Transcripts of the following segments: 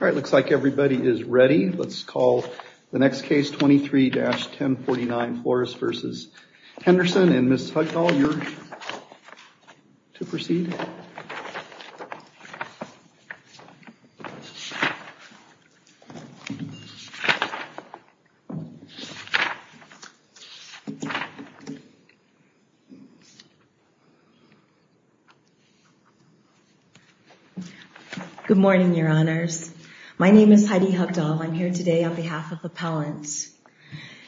It looks like everybody is ready. Let's call the next case, 23-1049, Flores v. Henderson, and Ms. Hucknall, you're to proceed. Hucknall Good morning, Your Honors. My name is Heidi Hucknall. I'm here today on behalf of appellants.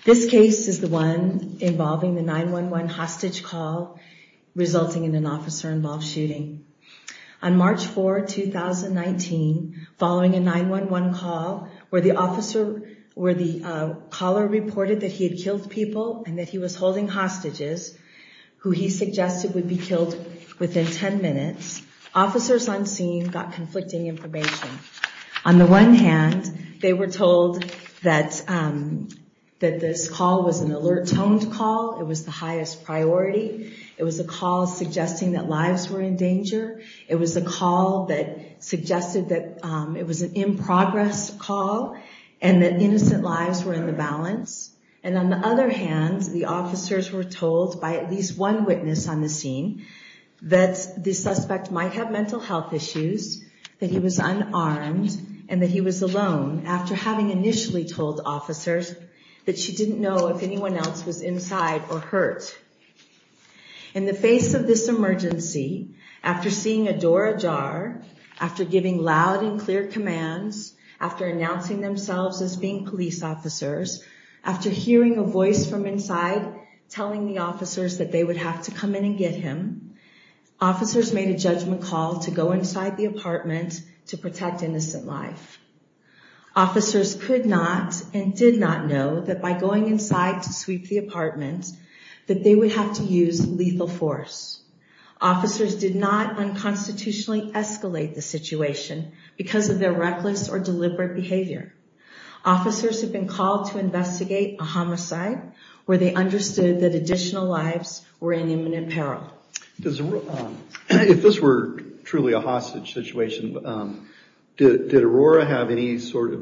This case is the one involving the 9-1-1 hostage call resulting in an officer-involved shooting. On March 4, 2019, following a 9-1-1 call where the officer, where the caller reported that he had killed people and that he was holding hostages who he suggested would be killed within 10 minutes, officers on scene got conflicting information. On the one hand, they were told that that this call was an alert-toned call. It was the highest priority. It was a call suggesting that lives were in danger. It was a call that suggested that it was an in-progress call and that innocent lives were in the balance. And on the other hand, the officers were told by at least one witness on the scene that the suspect might have mental health issues, that he was unarmed, and that he was alone, after having initially told officers that she didn't know if anyone else was inside or hurt. In the face of this emergency, after seeing a door ajar, after giving loud and clear commands, after announcing themselves as being police officers, after hearing a voice from inside telling the officers that they would have to come in and get him, officers made a judgment call to go inside the apartment to protect innocent life. Officers could not and did not know that by going inside to sweep the apartment that they would have to use lethal force. Officers did not unconstitutionally escalate the situation because of their reckless or deliberate behavior. Officers have been called to investigate a homicide where they understood that additional lives were in imminent peril. If this were truly a hostage situation, does the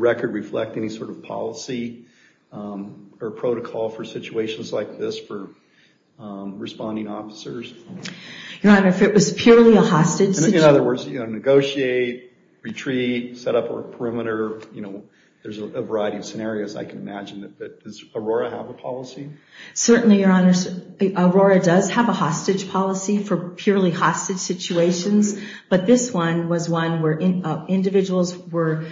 record reflect any sort of policy or protocol for situations like this for responding officers? Your Honor, if it was purely a hostage situation... In other words, negotiate, retreat, set up a perimeter, there's a variety of scenarios I can imagine. But does Aurora have a policy? Certainly, Your Honor. Aurora does have a hostage policy for purely hostage situations, but this one was one where individuals were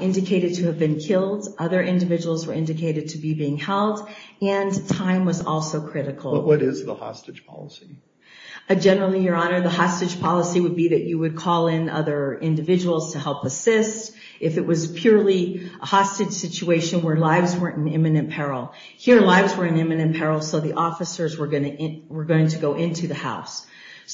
indicated to have been killed, other individuals were indicated to be being held, and time was also critical. What is the hostage policy? Generally, Your Honor, the hostage policy would be that you would call in other individuals to help assist. If it was purely a hostage situation where lives were in imminent peril, here lives were in imminent peril, so the officers were going to go into the house.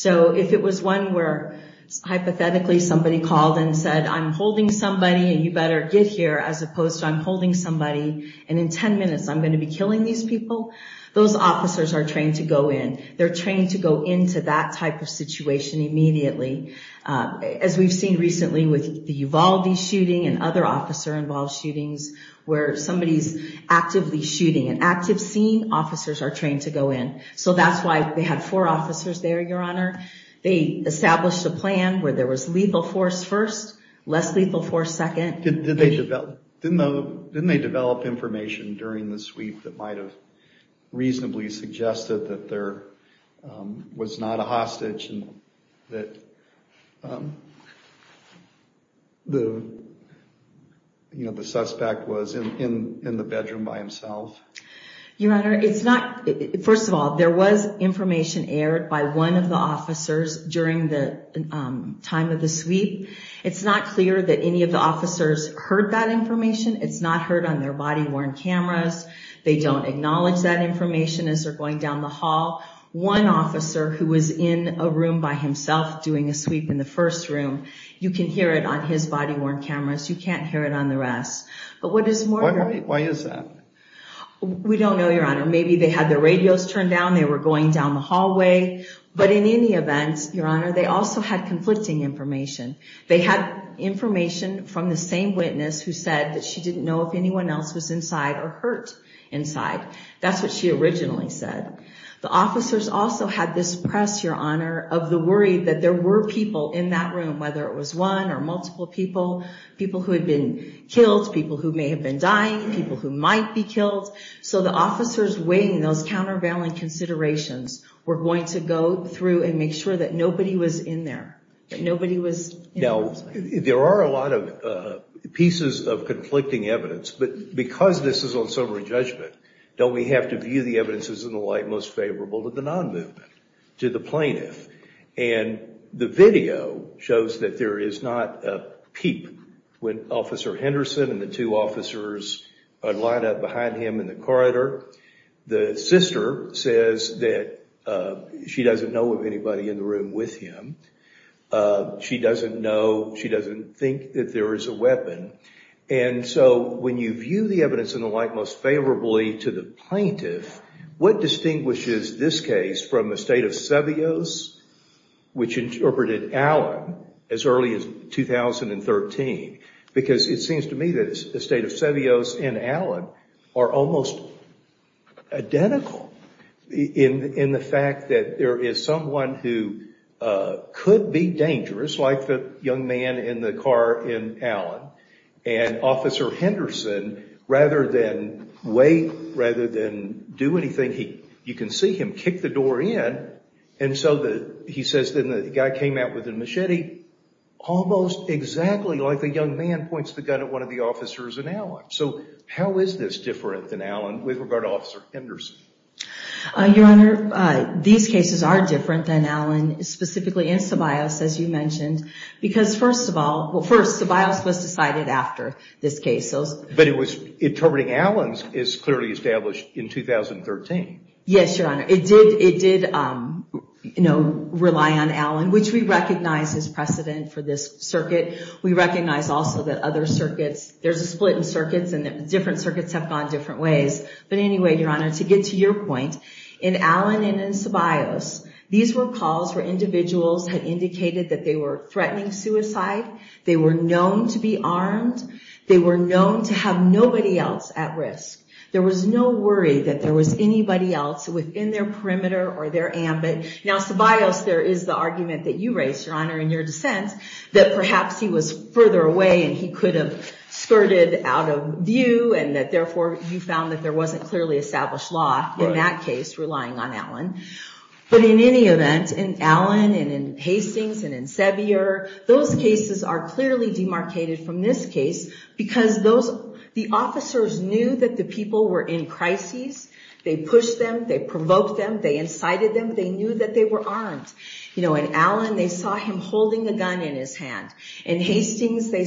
If it was one where, hypothetically, somebody called and said, I'm holding somebody and you better get here, as opposed to I'm holding somebody and in 10 minutes I'm going to be killing these people, those officers are trained to go in. They're trained to go into that type of situation immediately. As we've seen recently with the Uvalde shooting and other officer-involved shootings, where somebody's actively shooting an active scene, officers are trained to go in. So that's why they had four officers there, Your Honor. They established a plan where there was lethal force first, less lethal force second. Didn't they develop information during the sweep that might have reasonably suggested that there was not a hostage and that the suspect was in the bedroom by himself? Your Honor, first of all, there was information aired by one of the officers during the time of the sweep. It's not clear that any of the officers heard that information. It's not heard on their body-worn cameras. They don't acknowledge that information as they're going down the hall. One officer who was in a room by himself doing a sweep in the first room, you can hear it on his body-worn cameras. You can't hear it on the rest. Why is that? We don't know, Your Honor. Maybe they had their radios turned down, they were going down the hallway. But in any event, Your Honor, they also had conflicting information. They had information from the same witness who said that she didn't know if anyone else was inside or hurt inside. That's what she originally said. The officers also had this press, Your Honor, of the worry that there were people in that room, whether it was one or multiple people, people who had been killed, people who may have been dying, people who might be killed. So the officers weighing those countervailing considerations were going to go through and make sure that nobody was in there. Now, there are a lot of pieces of conflicting evidence, but because this is on sobering judgment, don't we have to view the evidences in the light most favorable to the non-movement, to the plaintiff? The video shows that there is not a peep when Officer Henderson and the two officers line up behind him in the corridor. The sister says that she doesn't know of anybody in the room with him. She doesn't know, she doesn't think that there is a weapon. And so when you view the evidence in the light most favorably to the plaintiff, what distinguishes this case from the state of Sevios, which interpreted Allen as early as 2013? Because it seems to me that the state of Sevios and Allen are almost identical in the fact that there is someone who could be dangerous, like the young man in the car in Allen, and Officer Henderson, rather than wait, rather than do anything, you can see him kick the door in. And so he says that the guy came out with a machete almost exactly like the young man points the gun at one of the officers in Allen. So how is this different than Allen with regard to Officer Henderson? Your Honor, these cases are different than Allen, specifically in Sevios, as you mentioned. Because first of all, well first, Sevios was decided after this case. But interpreting Allen is clearly established in 2013. Yes, Your Honor. It did rely on Allen, which we recognize as precedent for this circuit. We recognize also that other circuits, there's a split in circuits and that different circuits have gone different ways. But anyway, Your Honor, to get to your point, in Allen and in Sevios, these were calls where individuals had indicated that they were threatening suicide. They were known to be armed. They were known to have nobody else at risk. There was no worry that there was anybody else within their perimeter or their ambit. Now, Sevios, there is the argument that you raised, Your Honor, in your dissent, that perhaps he was further away and he could have skirted out of view. And that therefore, you found that there wasn't clearly established law in that case, relying on Allen. But in any event, in Allen and in Hastings and in Sevio, those cases are clearly demarcated from this case. Because the officers knew that the people were in crises. They pushed them. They provoked them. They incited them. They knew that they were armed. In Allen, they saw him holding a gun in his hand. In Hastings, they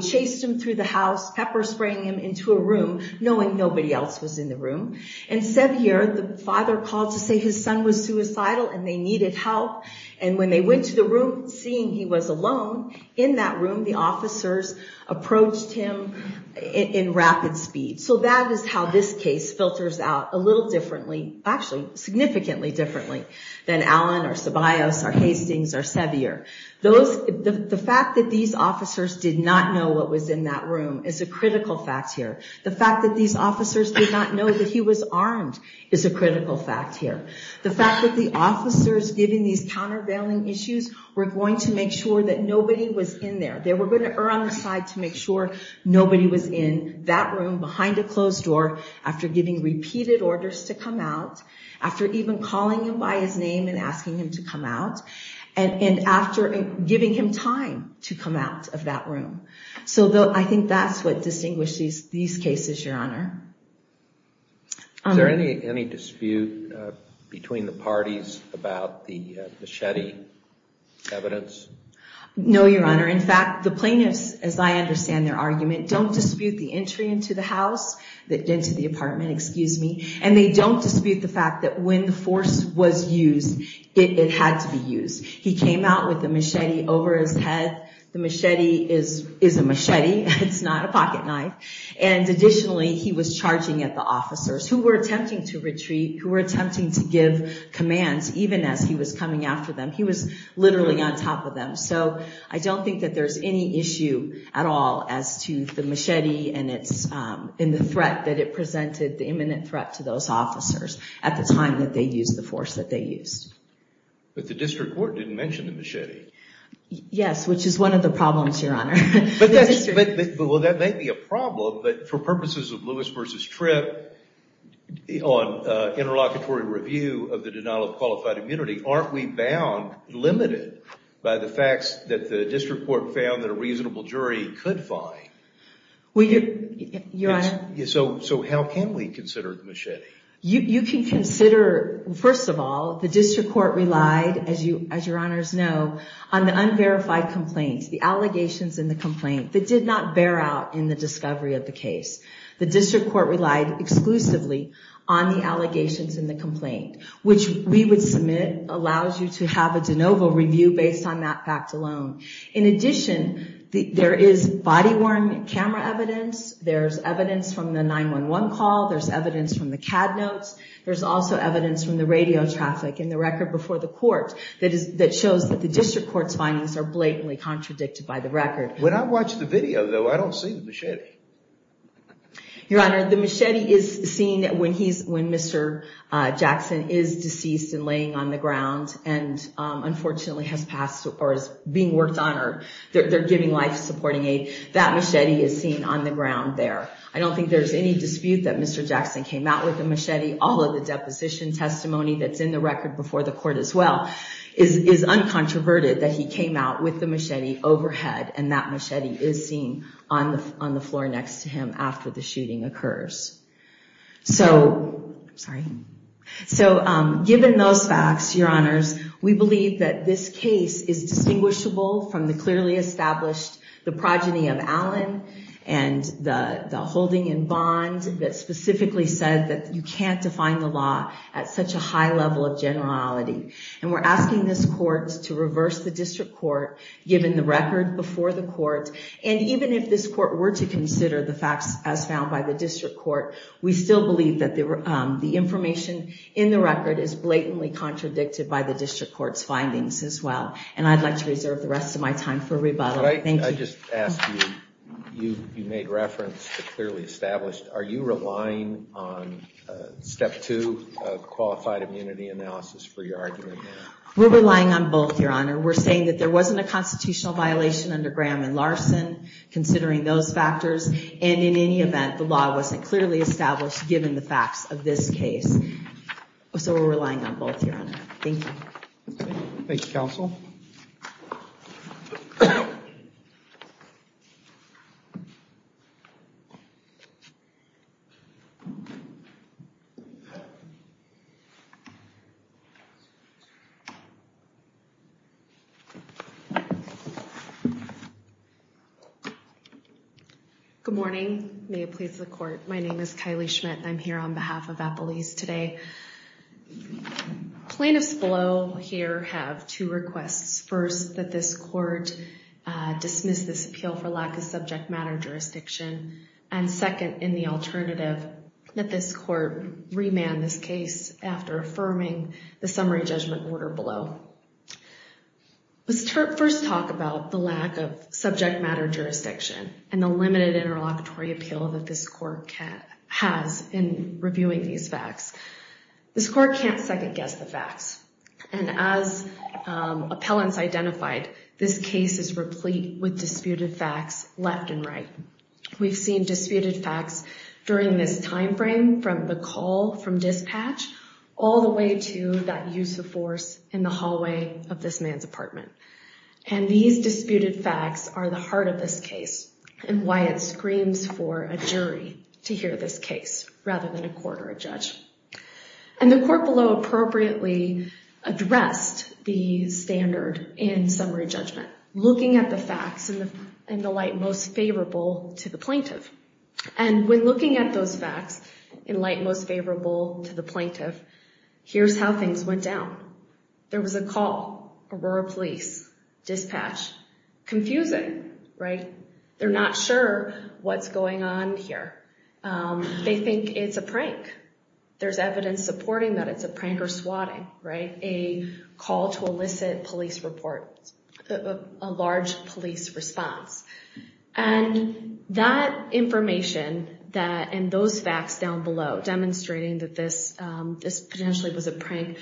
chased him through the house, pepper spraying him into a room, knowing nobody else was in the room. And Sevio, the father called to say his son was suicidal and they needed help. And when they went to the room, seeing he was alone in that room, the officers approached him in rapid speed. So that is how this case filters out a little differently, actually significantly differently, than Allen or Sevios or Hastings or Sevio. The fact that these officers did not know what was in that room is a critical fact here. The fact that these officers did not know that he was armed is a critical fact here. The fact that the officers, given these countervailing issues, were going to make sure that nobody was in there. They were going to err on the side to make sure nobody was in that room, behind a closed door, after giving repeated orders to come out. After even calling him by his name and asking him to come out. And after giving him time to come out of that room. So I think that's what distinguishes these cases, Your Honor. Is there any dispute between the parties about the machete evidence? No, Your Honor. In fact, the plaintiffs, as I understand their argument, don't dispute the entry into the house, into the apartment, excuse me. And they don't dispute the fact that when the force was used, it had to be used. He came out with a machete over his head. The machete is a machete. It's not a pocket knife. And additionally, he was charging at the officers who were attempting to retreat, who were attempting to give commands, even as he was coming after them. He was literally on top of them. So I don't think that there's any issue at all as to the machete and the threat that it presented, the imminent threat to those officers at the time that they used the force that they used. But the district court didn't mention the machete. Yes, which is one of the problems, Your Honor. Well, that may be a problem. But for purposes of Lewis versus Tripp, on interlocutory review of the denial of qualified immunity, aren't we bound, limited, by the facts that the district court found that a reasonable jury could find? Well, Your Honor. So how can we consider the machete? You can consider, first of all, the district court relied, as Your Honors know, on the unverified complaints, the allegations in the complaint that did not bear out in the discovery of the case. The district court relied exclusively on the allegations in the complaint, which we would submit allows you to have a de novo review based on that fact alone. In addition, there is body-worn camera evidence. There's evidence from the 911 call. There's evidence from the CAD notes. There's also evidence from the radio traffic and the record before the court that shows that the district court's findings are blatantly contradicted by the record. When I watch the video, though, I don't see the machete. Your Honor, the machete is seen when Mr. Jackson is deceased and laying on the ground and, unfortunately, has passed or is being worked on or they're giving life supporting aid. That machete is seen on the ground there. I don't think there's any dispute that Mr. Jackson came out with a machete. All of the deposition testimony that's in the record before the court as well is uncontroverted that he came out with the machete overhead. And that machete is seen on the floor next to him after the shooting occurs. So given those facts, Your Honors, we believe that this case is distinguishable from the clearly established, the progeny of Allen and the holding in bond that specifically said that you can't define the law at such a high level of generality. And we're asking this court to reverse the district court, given the record before the court, and even if this court were to consider the facts as found by the district court, we still believe that the information in the record is blatantly contradicted by the district court's findings as well. And I'd like to reserve the rest of my time for rebuttal. Thank you. I just ask you, you made reference to clearly established. Are you relying on step two, qualified immunity analysis, for your argument? We're relying on both, Your Honor. We're saying that there wasn't a constitutional violation under Graham and Larson, considering those factors. And in any event, the law wasn't clearly established, given the facts of this case. So we're relying on both, Your Honor. Thank you. Thank you, counsel. Good morning. May it please the court. My name is Kylie Schmidt. I'm here on behalf of Apple East today. Plaintiffs below here have two requests. First, that this court dismiss this appeal for lack of subject matter jurisdiction. And second, in the alternative, that this court remand this case after affirming the summary judgment order below. Let's first talk about the lack of subject matter jurisdiction and the limited interlocutory appeal that this court has in reviewing these facts. This court can't second guess the facts. And as appellants identified, this case is replete with disputed facts left and right. We've seen disputed facts during this time frame from the call from dispatch all the way to that use of force in the hallway of this man's apartment. And these disputed facts are the heart of this case and why it screams for a jury to hear this case rather than a court or a judge. And the court below appropriately addressed the standard in summary judgment, looking at the facts in the light most favorable to the plaintiff. And when looking at those facts in light most favorable to the plaintiff, here's how things went down. There was a call, Aurora Police, dispatch, confusing, right? They're not sure what's going on here. They think it's a prank. There's evidence supporting that it's a prank or swatting, right? A call to elicit police report, a large police response. And that information and those facts down below demonstrating that this potentially was a prank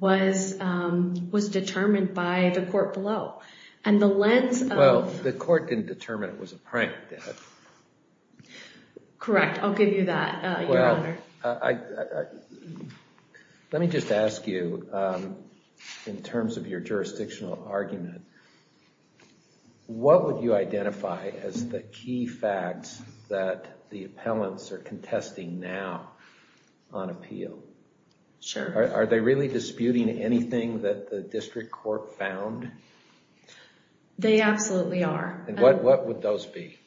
was determined by the court below. And the lens of... Well, the court didn't determine it was a prank. Correct. I'll give you that, Your Honor. Let me just ask you, in terms of your jurisdictional argument, what would you identify as the key facts that the appellants are contesting now on appeal? Sure. Are they really disputing anything that the district court found? They absolutely are. And what would those be?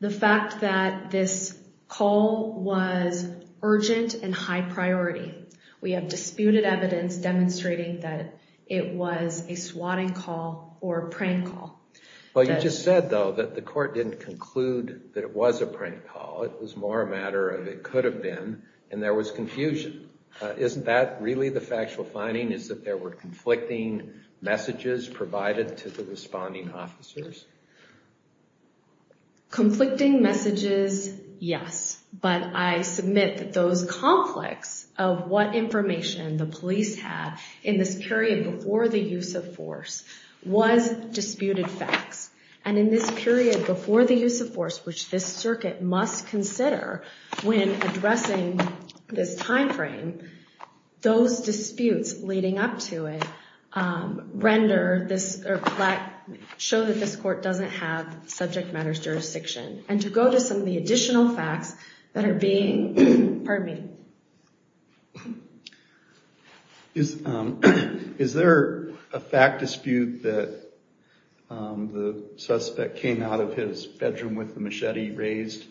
The fact that this call was urgent and high priority. We have disputed evidence demonstrating that it was a swatting call or a prank call. Well, you just said, though, that the court didn't conclude that it was a prank call. It was more a matter of it could have been and there was confusion. Isn't that really the factual finding is that there were conflicting messages provided to the responding officers? Conflicting messages, yes. But I submit that those conflicts of what information the police have in this period before the use of force was disputed facts. And in this period before the use of force, which this circuit must consider when addressing this time frame, those disputes leading up to it show that this court doesn't have subject matters jurisdiction. And to go to some of the additional facts that are being, pardon me. Is there a fact dispute that the suspect came out of his bedroom with the machete raised?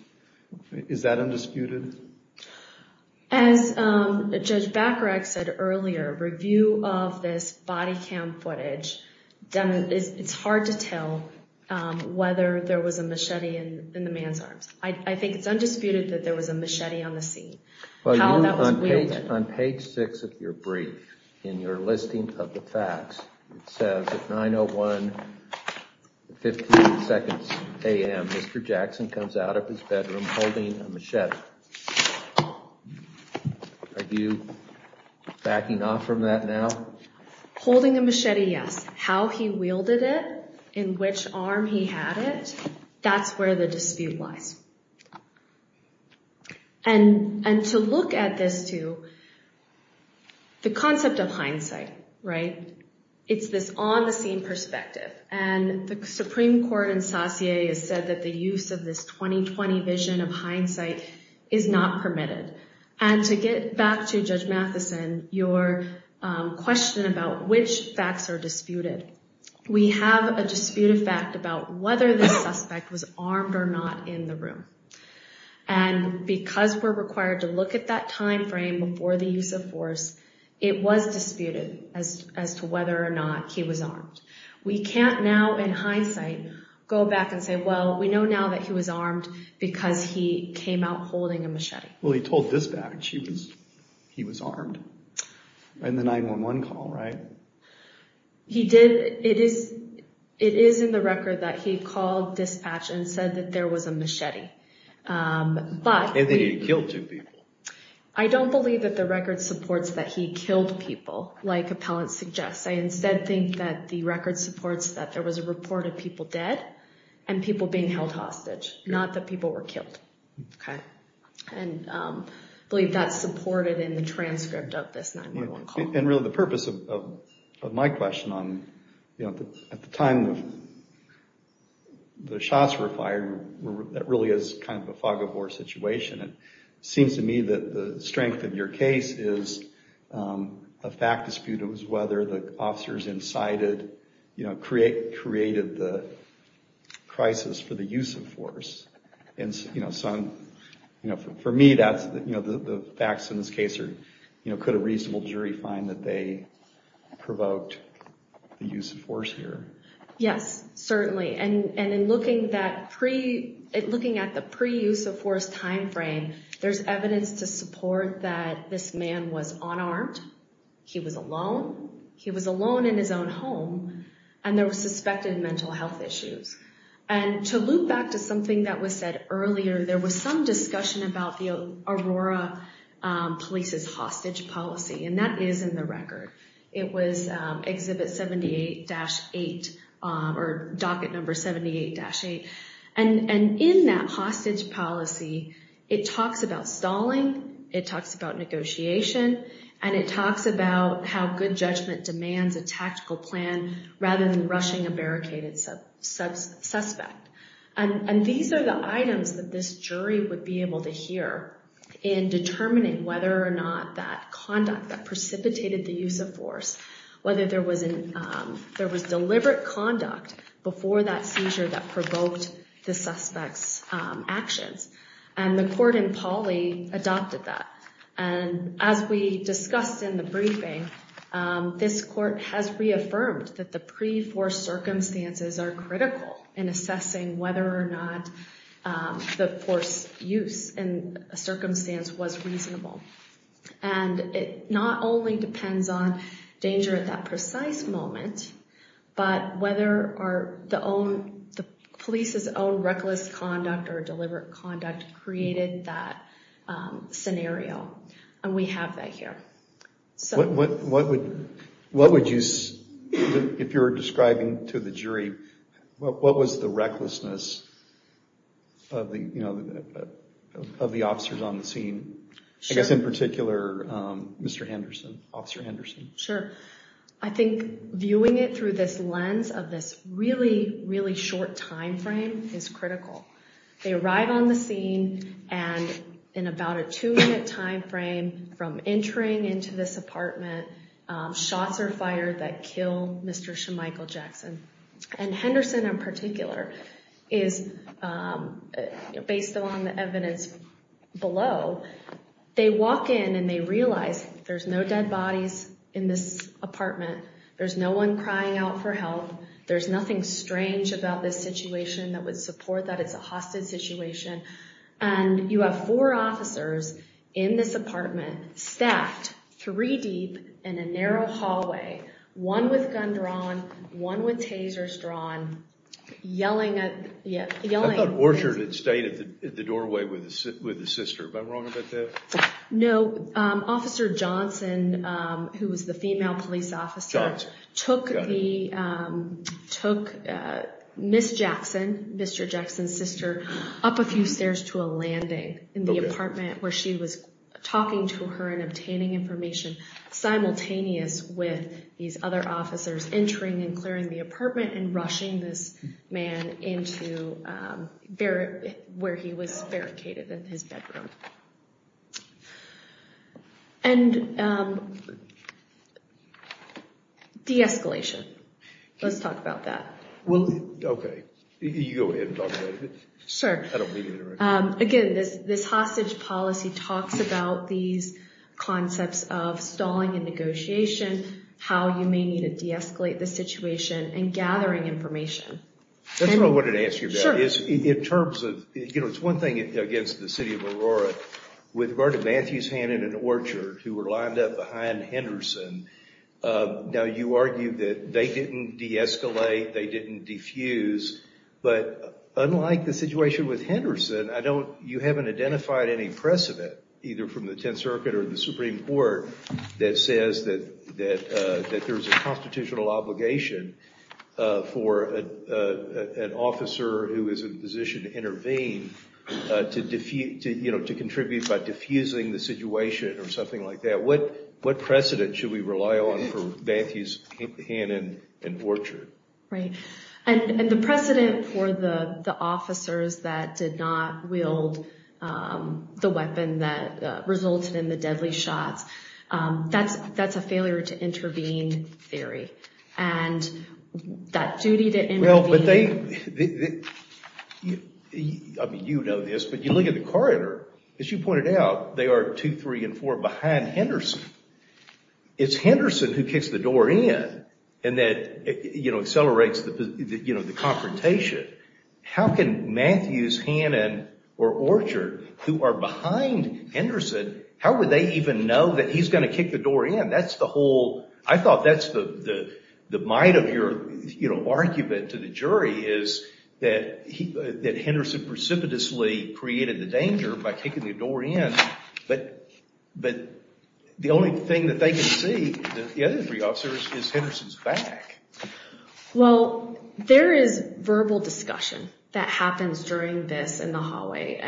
Is that undisputed? As Judge Bacharach said earlier, review of this body cam footage, it's hard to tell whether there was a machete in the man's arms. I think it's undisputed that there was a machete on the scene. On page six of your brief, in your listing of the facts, it says at 9.01, 15 seconds a.m., Mr. Jackson comes out of his bedroom holding a machete. Are you backing off from that now? Holding a machete, yes. How he wielded it, in which arm he had it, that's where the dispute lies. And to look at this too, the concept of hindsight, right? It's this on-the-scene perspective. And the Supreme Court in Saussure has said that the use of this 2020 vision of hindsight is not permitted. And to get back to Judge Matheson, your question about which facts are disputed, we have a disputed fact about whether the suspect was armed or not in the room. And because we're required to look at that time frame before the use of force, it was disputed as to whether or not he was armed. We can't now, in hindsight, go back and say, well, we know now that he was armed because he came out holding a machete. Well, he told dispatch he was armed in the 911 call, right? It is in the record that he called dispatch and said that there was a machete. And that he killed two people. I don't believe that the record supports that he killed people, like appellants suggest. I instead think that the record supports that there was a report of people dead and people being held hostage, not that people were killed. Okay. And I believe that's supported in the transcript of this 911 call. And really, the purpose of my question, at the time the shots were fired, that really is kind of a fog of war situation. It seems to me that the strength of your case is a fact dispute. It was whether the officers incited, created the crisis for the use of force. For me, the facts in this case are, could a reasonable jury find that they provoked the use of force here? Yes, certainly. And in looking at the pre-use of force time frame, there's evidence to support that this man was unarmed. He was alone. He was alone in his own home. And there were suspected mental health issues. And to loop back to something that was said earlier, there was some discussion about the Aurora Police's hostage policy. And that is in the record. It was Exhibit 78-8, or Docket Number 78-8. And in that hostage policy, it talks about stalling, it talks about negotiation, and it talks about how good judgment demands a tactical plan rather than rushing a barricaded suspect. And these are the items that this jury would be able to hear in determining whether or not that conduct that precipitated the use of force, whether there was deliberate conduct before that seizure that provoked the suspect's actions. And the court in Pauley adopted that. And as we discussed in the briefing, this court has reaffirmed that the pre-force circumstances are critical in assessing whether or not the force use in a circumstance was reasonable. And it not only depends on danger at that precise moment, but whether the police's own reckless conduct or deliberate conduct created that scenario. And we have that here. What would you, if you were describing to the jury, what was the recklessness of the officers on the scene? I guess in particular, Mr. Henderson, Officer Henderson. Sure. I think viewing it through this lens of this really, really short time frame is critical. They arrive on the scene, and in about a two-minute time frame from entering into this apartment, shots are fired that kill Mr. Michael Jackson. And Henderson in particular is, based on the evidence below, they walk in and they realize there's no dead bodies in this apartment. There's no one crying out for help. There's nothing strange about this situation that would support that it's a hostage situation. And you have four officers in this apartment, staffed three deep in a narrow hallway, one with gun drawn, one with tasers drawn, yelling at— I thought Orchard had stayed at the doorway with his sister. Am I wrong about that? No. Officer Johnson, who was the female police officer, took Miss Jackson, Mr. Jackson's sister, up a few stairs to a landing in the apartment where she was talking to her and obtaining information, simultaneous with these other officers entering and clearing the apartment and rushing this man into where he was barricaded in his bedroom. And de-escalation. Let's talk about that. Well, okay. You go ahead and talk about it. Sure. I don't mean to interrupt. Again, this hostage policy talks about these concepts of stalling and negotiation, how you may need to de-escalate the situation, and gathering information. That's what I wanted to ask you about. Sure. In terms of—it's one thing against the city of Aurora. With Vernon Matthews' hand in an orchard, who were lined up behind Henderson, now you argue that they didn't de-escalate, they didn't defuse. But unlike the situation with Henderson, you haven't identified any precedent, either from the Tenth Circuit or the Supreme Court, that says that there's a constitutional obligation for an officer who is in a position to intervene to contribute by defusing the situation or something like that. What precedent should we rely on for Matthews' hand in an orchard? Right. And the precedent for the officers that did not wield the weapon that resulted in the deadly shots, that's a failure to intervene theory. And that duty to intervene— Well, but they—I mean, you know this, but you look at the corridor. As you pointed out, they are two, three, and four behind Henderson. It's Henderson who kicks the door in and that accelerates the confrontation. How can Matthews' hand in an orchard, who are behind Henderson, how would they even know that he's going to kick the door in? That's the whole—I thought that's the might of your argument to the jury, is that Henderson precipitously created the danger by kicking the door in. But the only thing that they can see, the other three officers, is Henderson's back. Well, there is verbal discussion that happens during this in the hallway.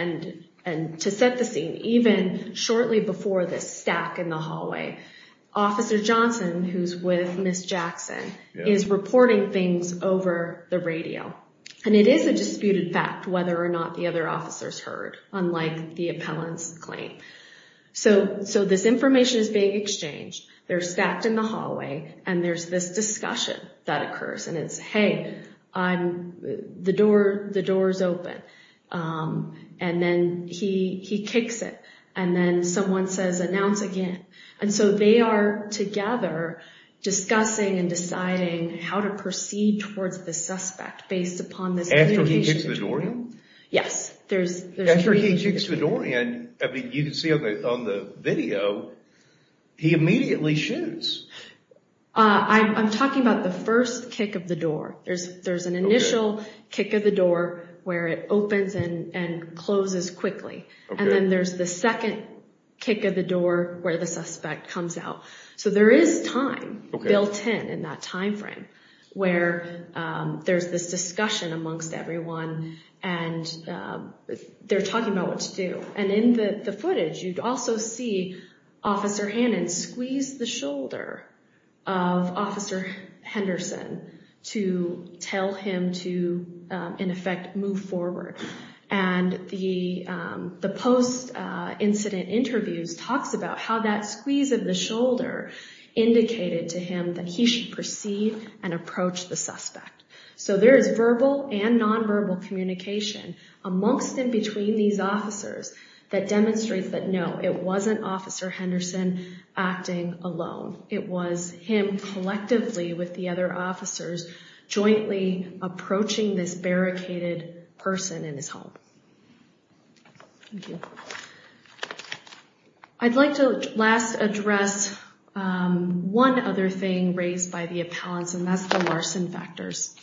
And to set the scene, even shortly before this stack in the hallway, Officer Johnson, who's with Ms. Jackson, is reporting things over the radio. And it is a disputed fact whether or not the other officers heard, unlike the appellant's claim. So this information is being exchanged. They're stacked in the hallway, and there's this discussion that occurs, and it's, hey, the door's open. And then he kicks it, and then someone says, announce again. And so they are together discussing and deciding how to proceed towards the suspect based upon this communication. After he kicks the door in? Yes. After he kicks the door in, you can see on the video, he immediately shoots. I'm talking about the first kick of the door. There's an initial kick of the door where it opens and closes quickly. And then there's the second kick of the door where the suspect comes out. So there is time built in, in that time frame, where there's this discussion amongst everyone, and they're talking about what to do. And in the footage, you also see Officer Hannon squeeze the shoulder of Officer Henderson to tell him to, in effect, move forward. And the post-incident interviews talks about how that squeeze of the shoulder indicated to him that he should proceed and approach the suspect. So there is verbal and nonverbal communication amongst and between these officers that demonstrates that, no, it wasn't Officer Henderson acting alone. It was him collectively with the other officers jointly approaching this barricaded person in his home. Thank you. I'd like to last address one other thing raised by the appellants, and that's the Larson factors.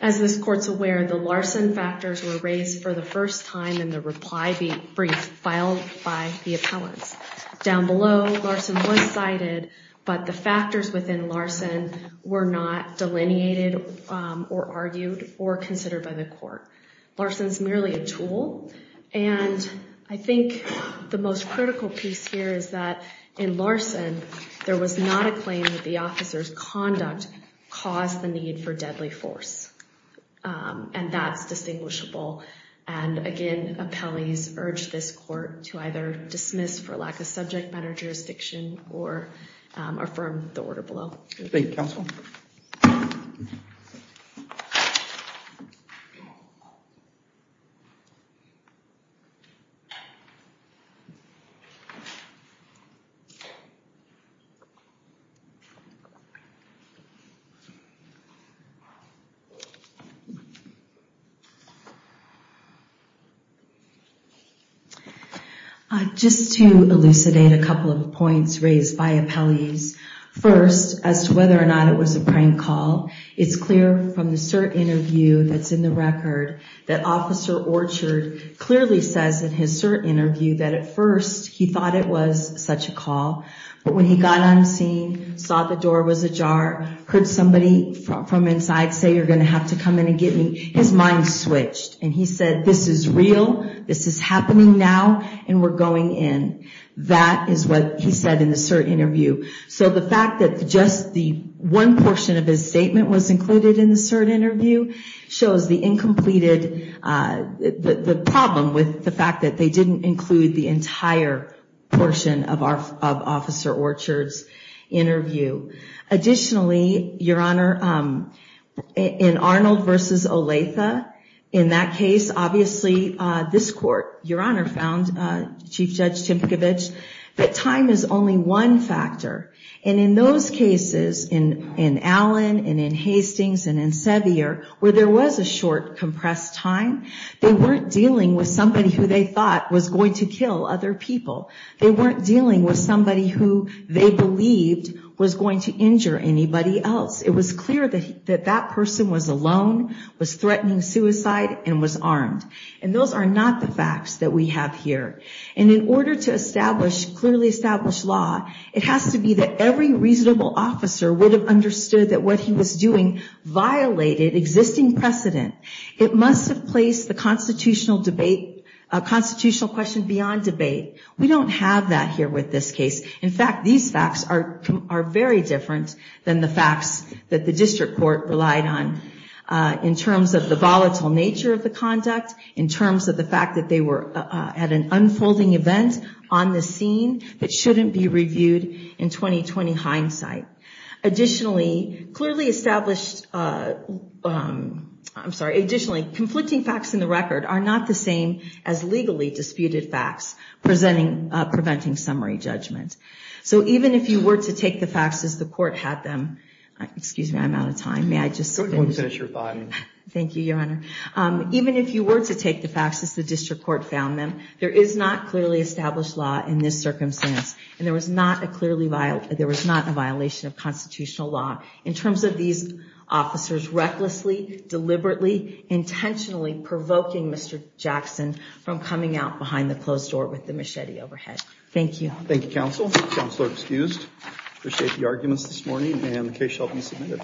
As this Court's aware, the Larson factors were raised for the first time in the reply brief filed by the appellants. Down below, Larson was cited, but the factors within Larson were not delineated or argued or considered by the Court. Larson is merely a tool, and I think the most critical piece here is that in Larson, there was not a claim that the officer's conduct caused the need for deadly force, and that's distinguishable. And, again, appellees urge this Court to either dismiss for lack of subject matter jurisdiction or affirm the order below. Thank you, Counsel. Just to elucidate a couple of points raised by appellees. First, as to whether or not it was a prank call, it's clear from the cert interview that's in the record that Officer Orchard clearly says in his cert interview that at first he thought it was such a call, but when he got on scene, saw the door was ajar, heard somebody from inside say, you're going to have to come in and get me, his mind switched, and he said, this is real, this is happening now, and we're going in. That is what he said in the cert interview. So the fact that just the one portion of his statement was included in the cert interview shows the incompleted, the problem with the fact that they didn't include the entire portion of Officer Orchard's interview. Additionally, Your Honor, in Arnold versus Olathe, in that case, obviously, this court, Your Honor, found, Chief Judge Timpukavich, that time is only one factor. And in those cases, in Allen and in Hastings and in Sevier, where there was a short, compressed time, they weren't dealing with somebody who they thought was going to kill other people. They weren't dealing with somebody who they believed was going to injure anybody else. It was clear that that person was alone, was threatening suicide, and was armed. And those are not the facts that we have here. And in order to establish, clearly establish law, it has to be that every reasonable officer would have understood that what he was doing violated existing precedent. It must have placed the constitutional debate, constitutional question beyond debate. We don't have that here with this case. In fact, these facts are very different than the facts that the district court relied on, in terms of the volatile nature of the conduct, in terms of the fact that they were at an unfolding event on the scene that shouldn't be reviewed in 20-20 hindsight. Additionally, clearly established, I'm sorry, additionally, conflicting facts in the record are not the same as legally disputed facts preventing summary judgment. So even if you were to take the facts as the court had them, excuse me, I'm running out of time. May I just finish? Go ahead and finish your thought. Thank you, Your Honor. Even if you were to take the facts as the district court found them, there is not clearly established law in this circumstance. And there was not a violation of constitutional law in terms of these officers recklessly, deliberately, intentionally provoking Mr. Jackson from coming out behind the closed door with the machete overhead. Thank you. Thank you, Counsel. Counselor excused. Appreciate the arguments this morning, and the case shall be submitted.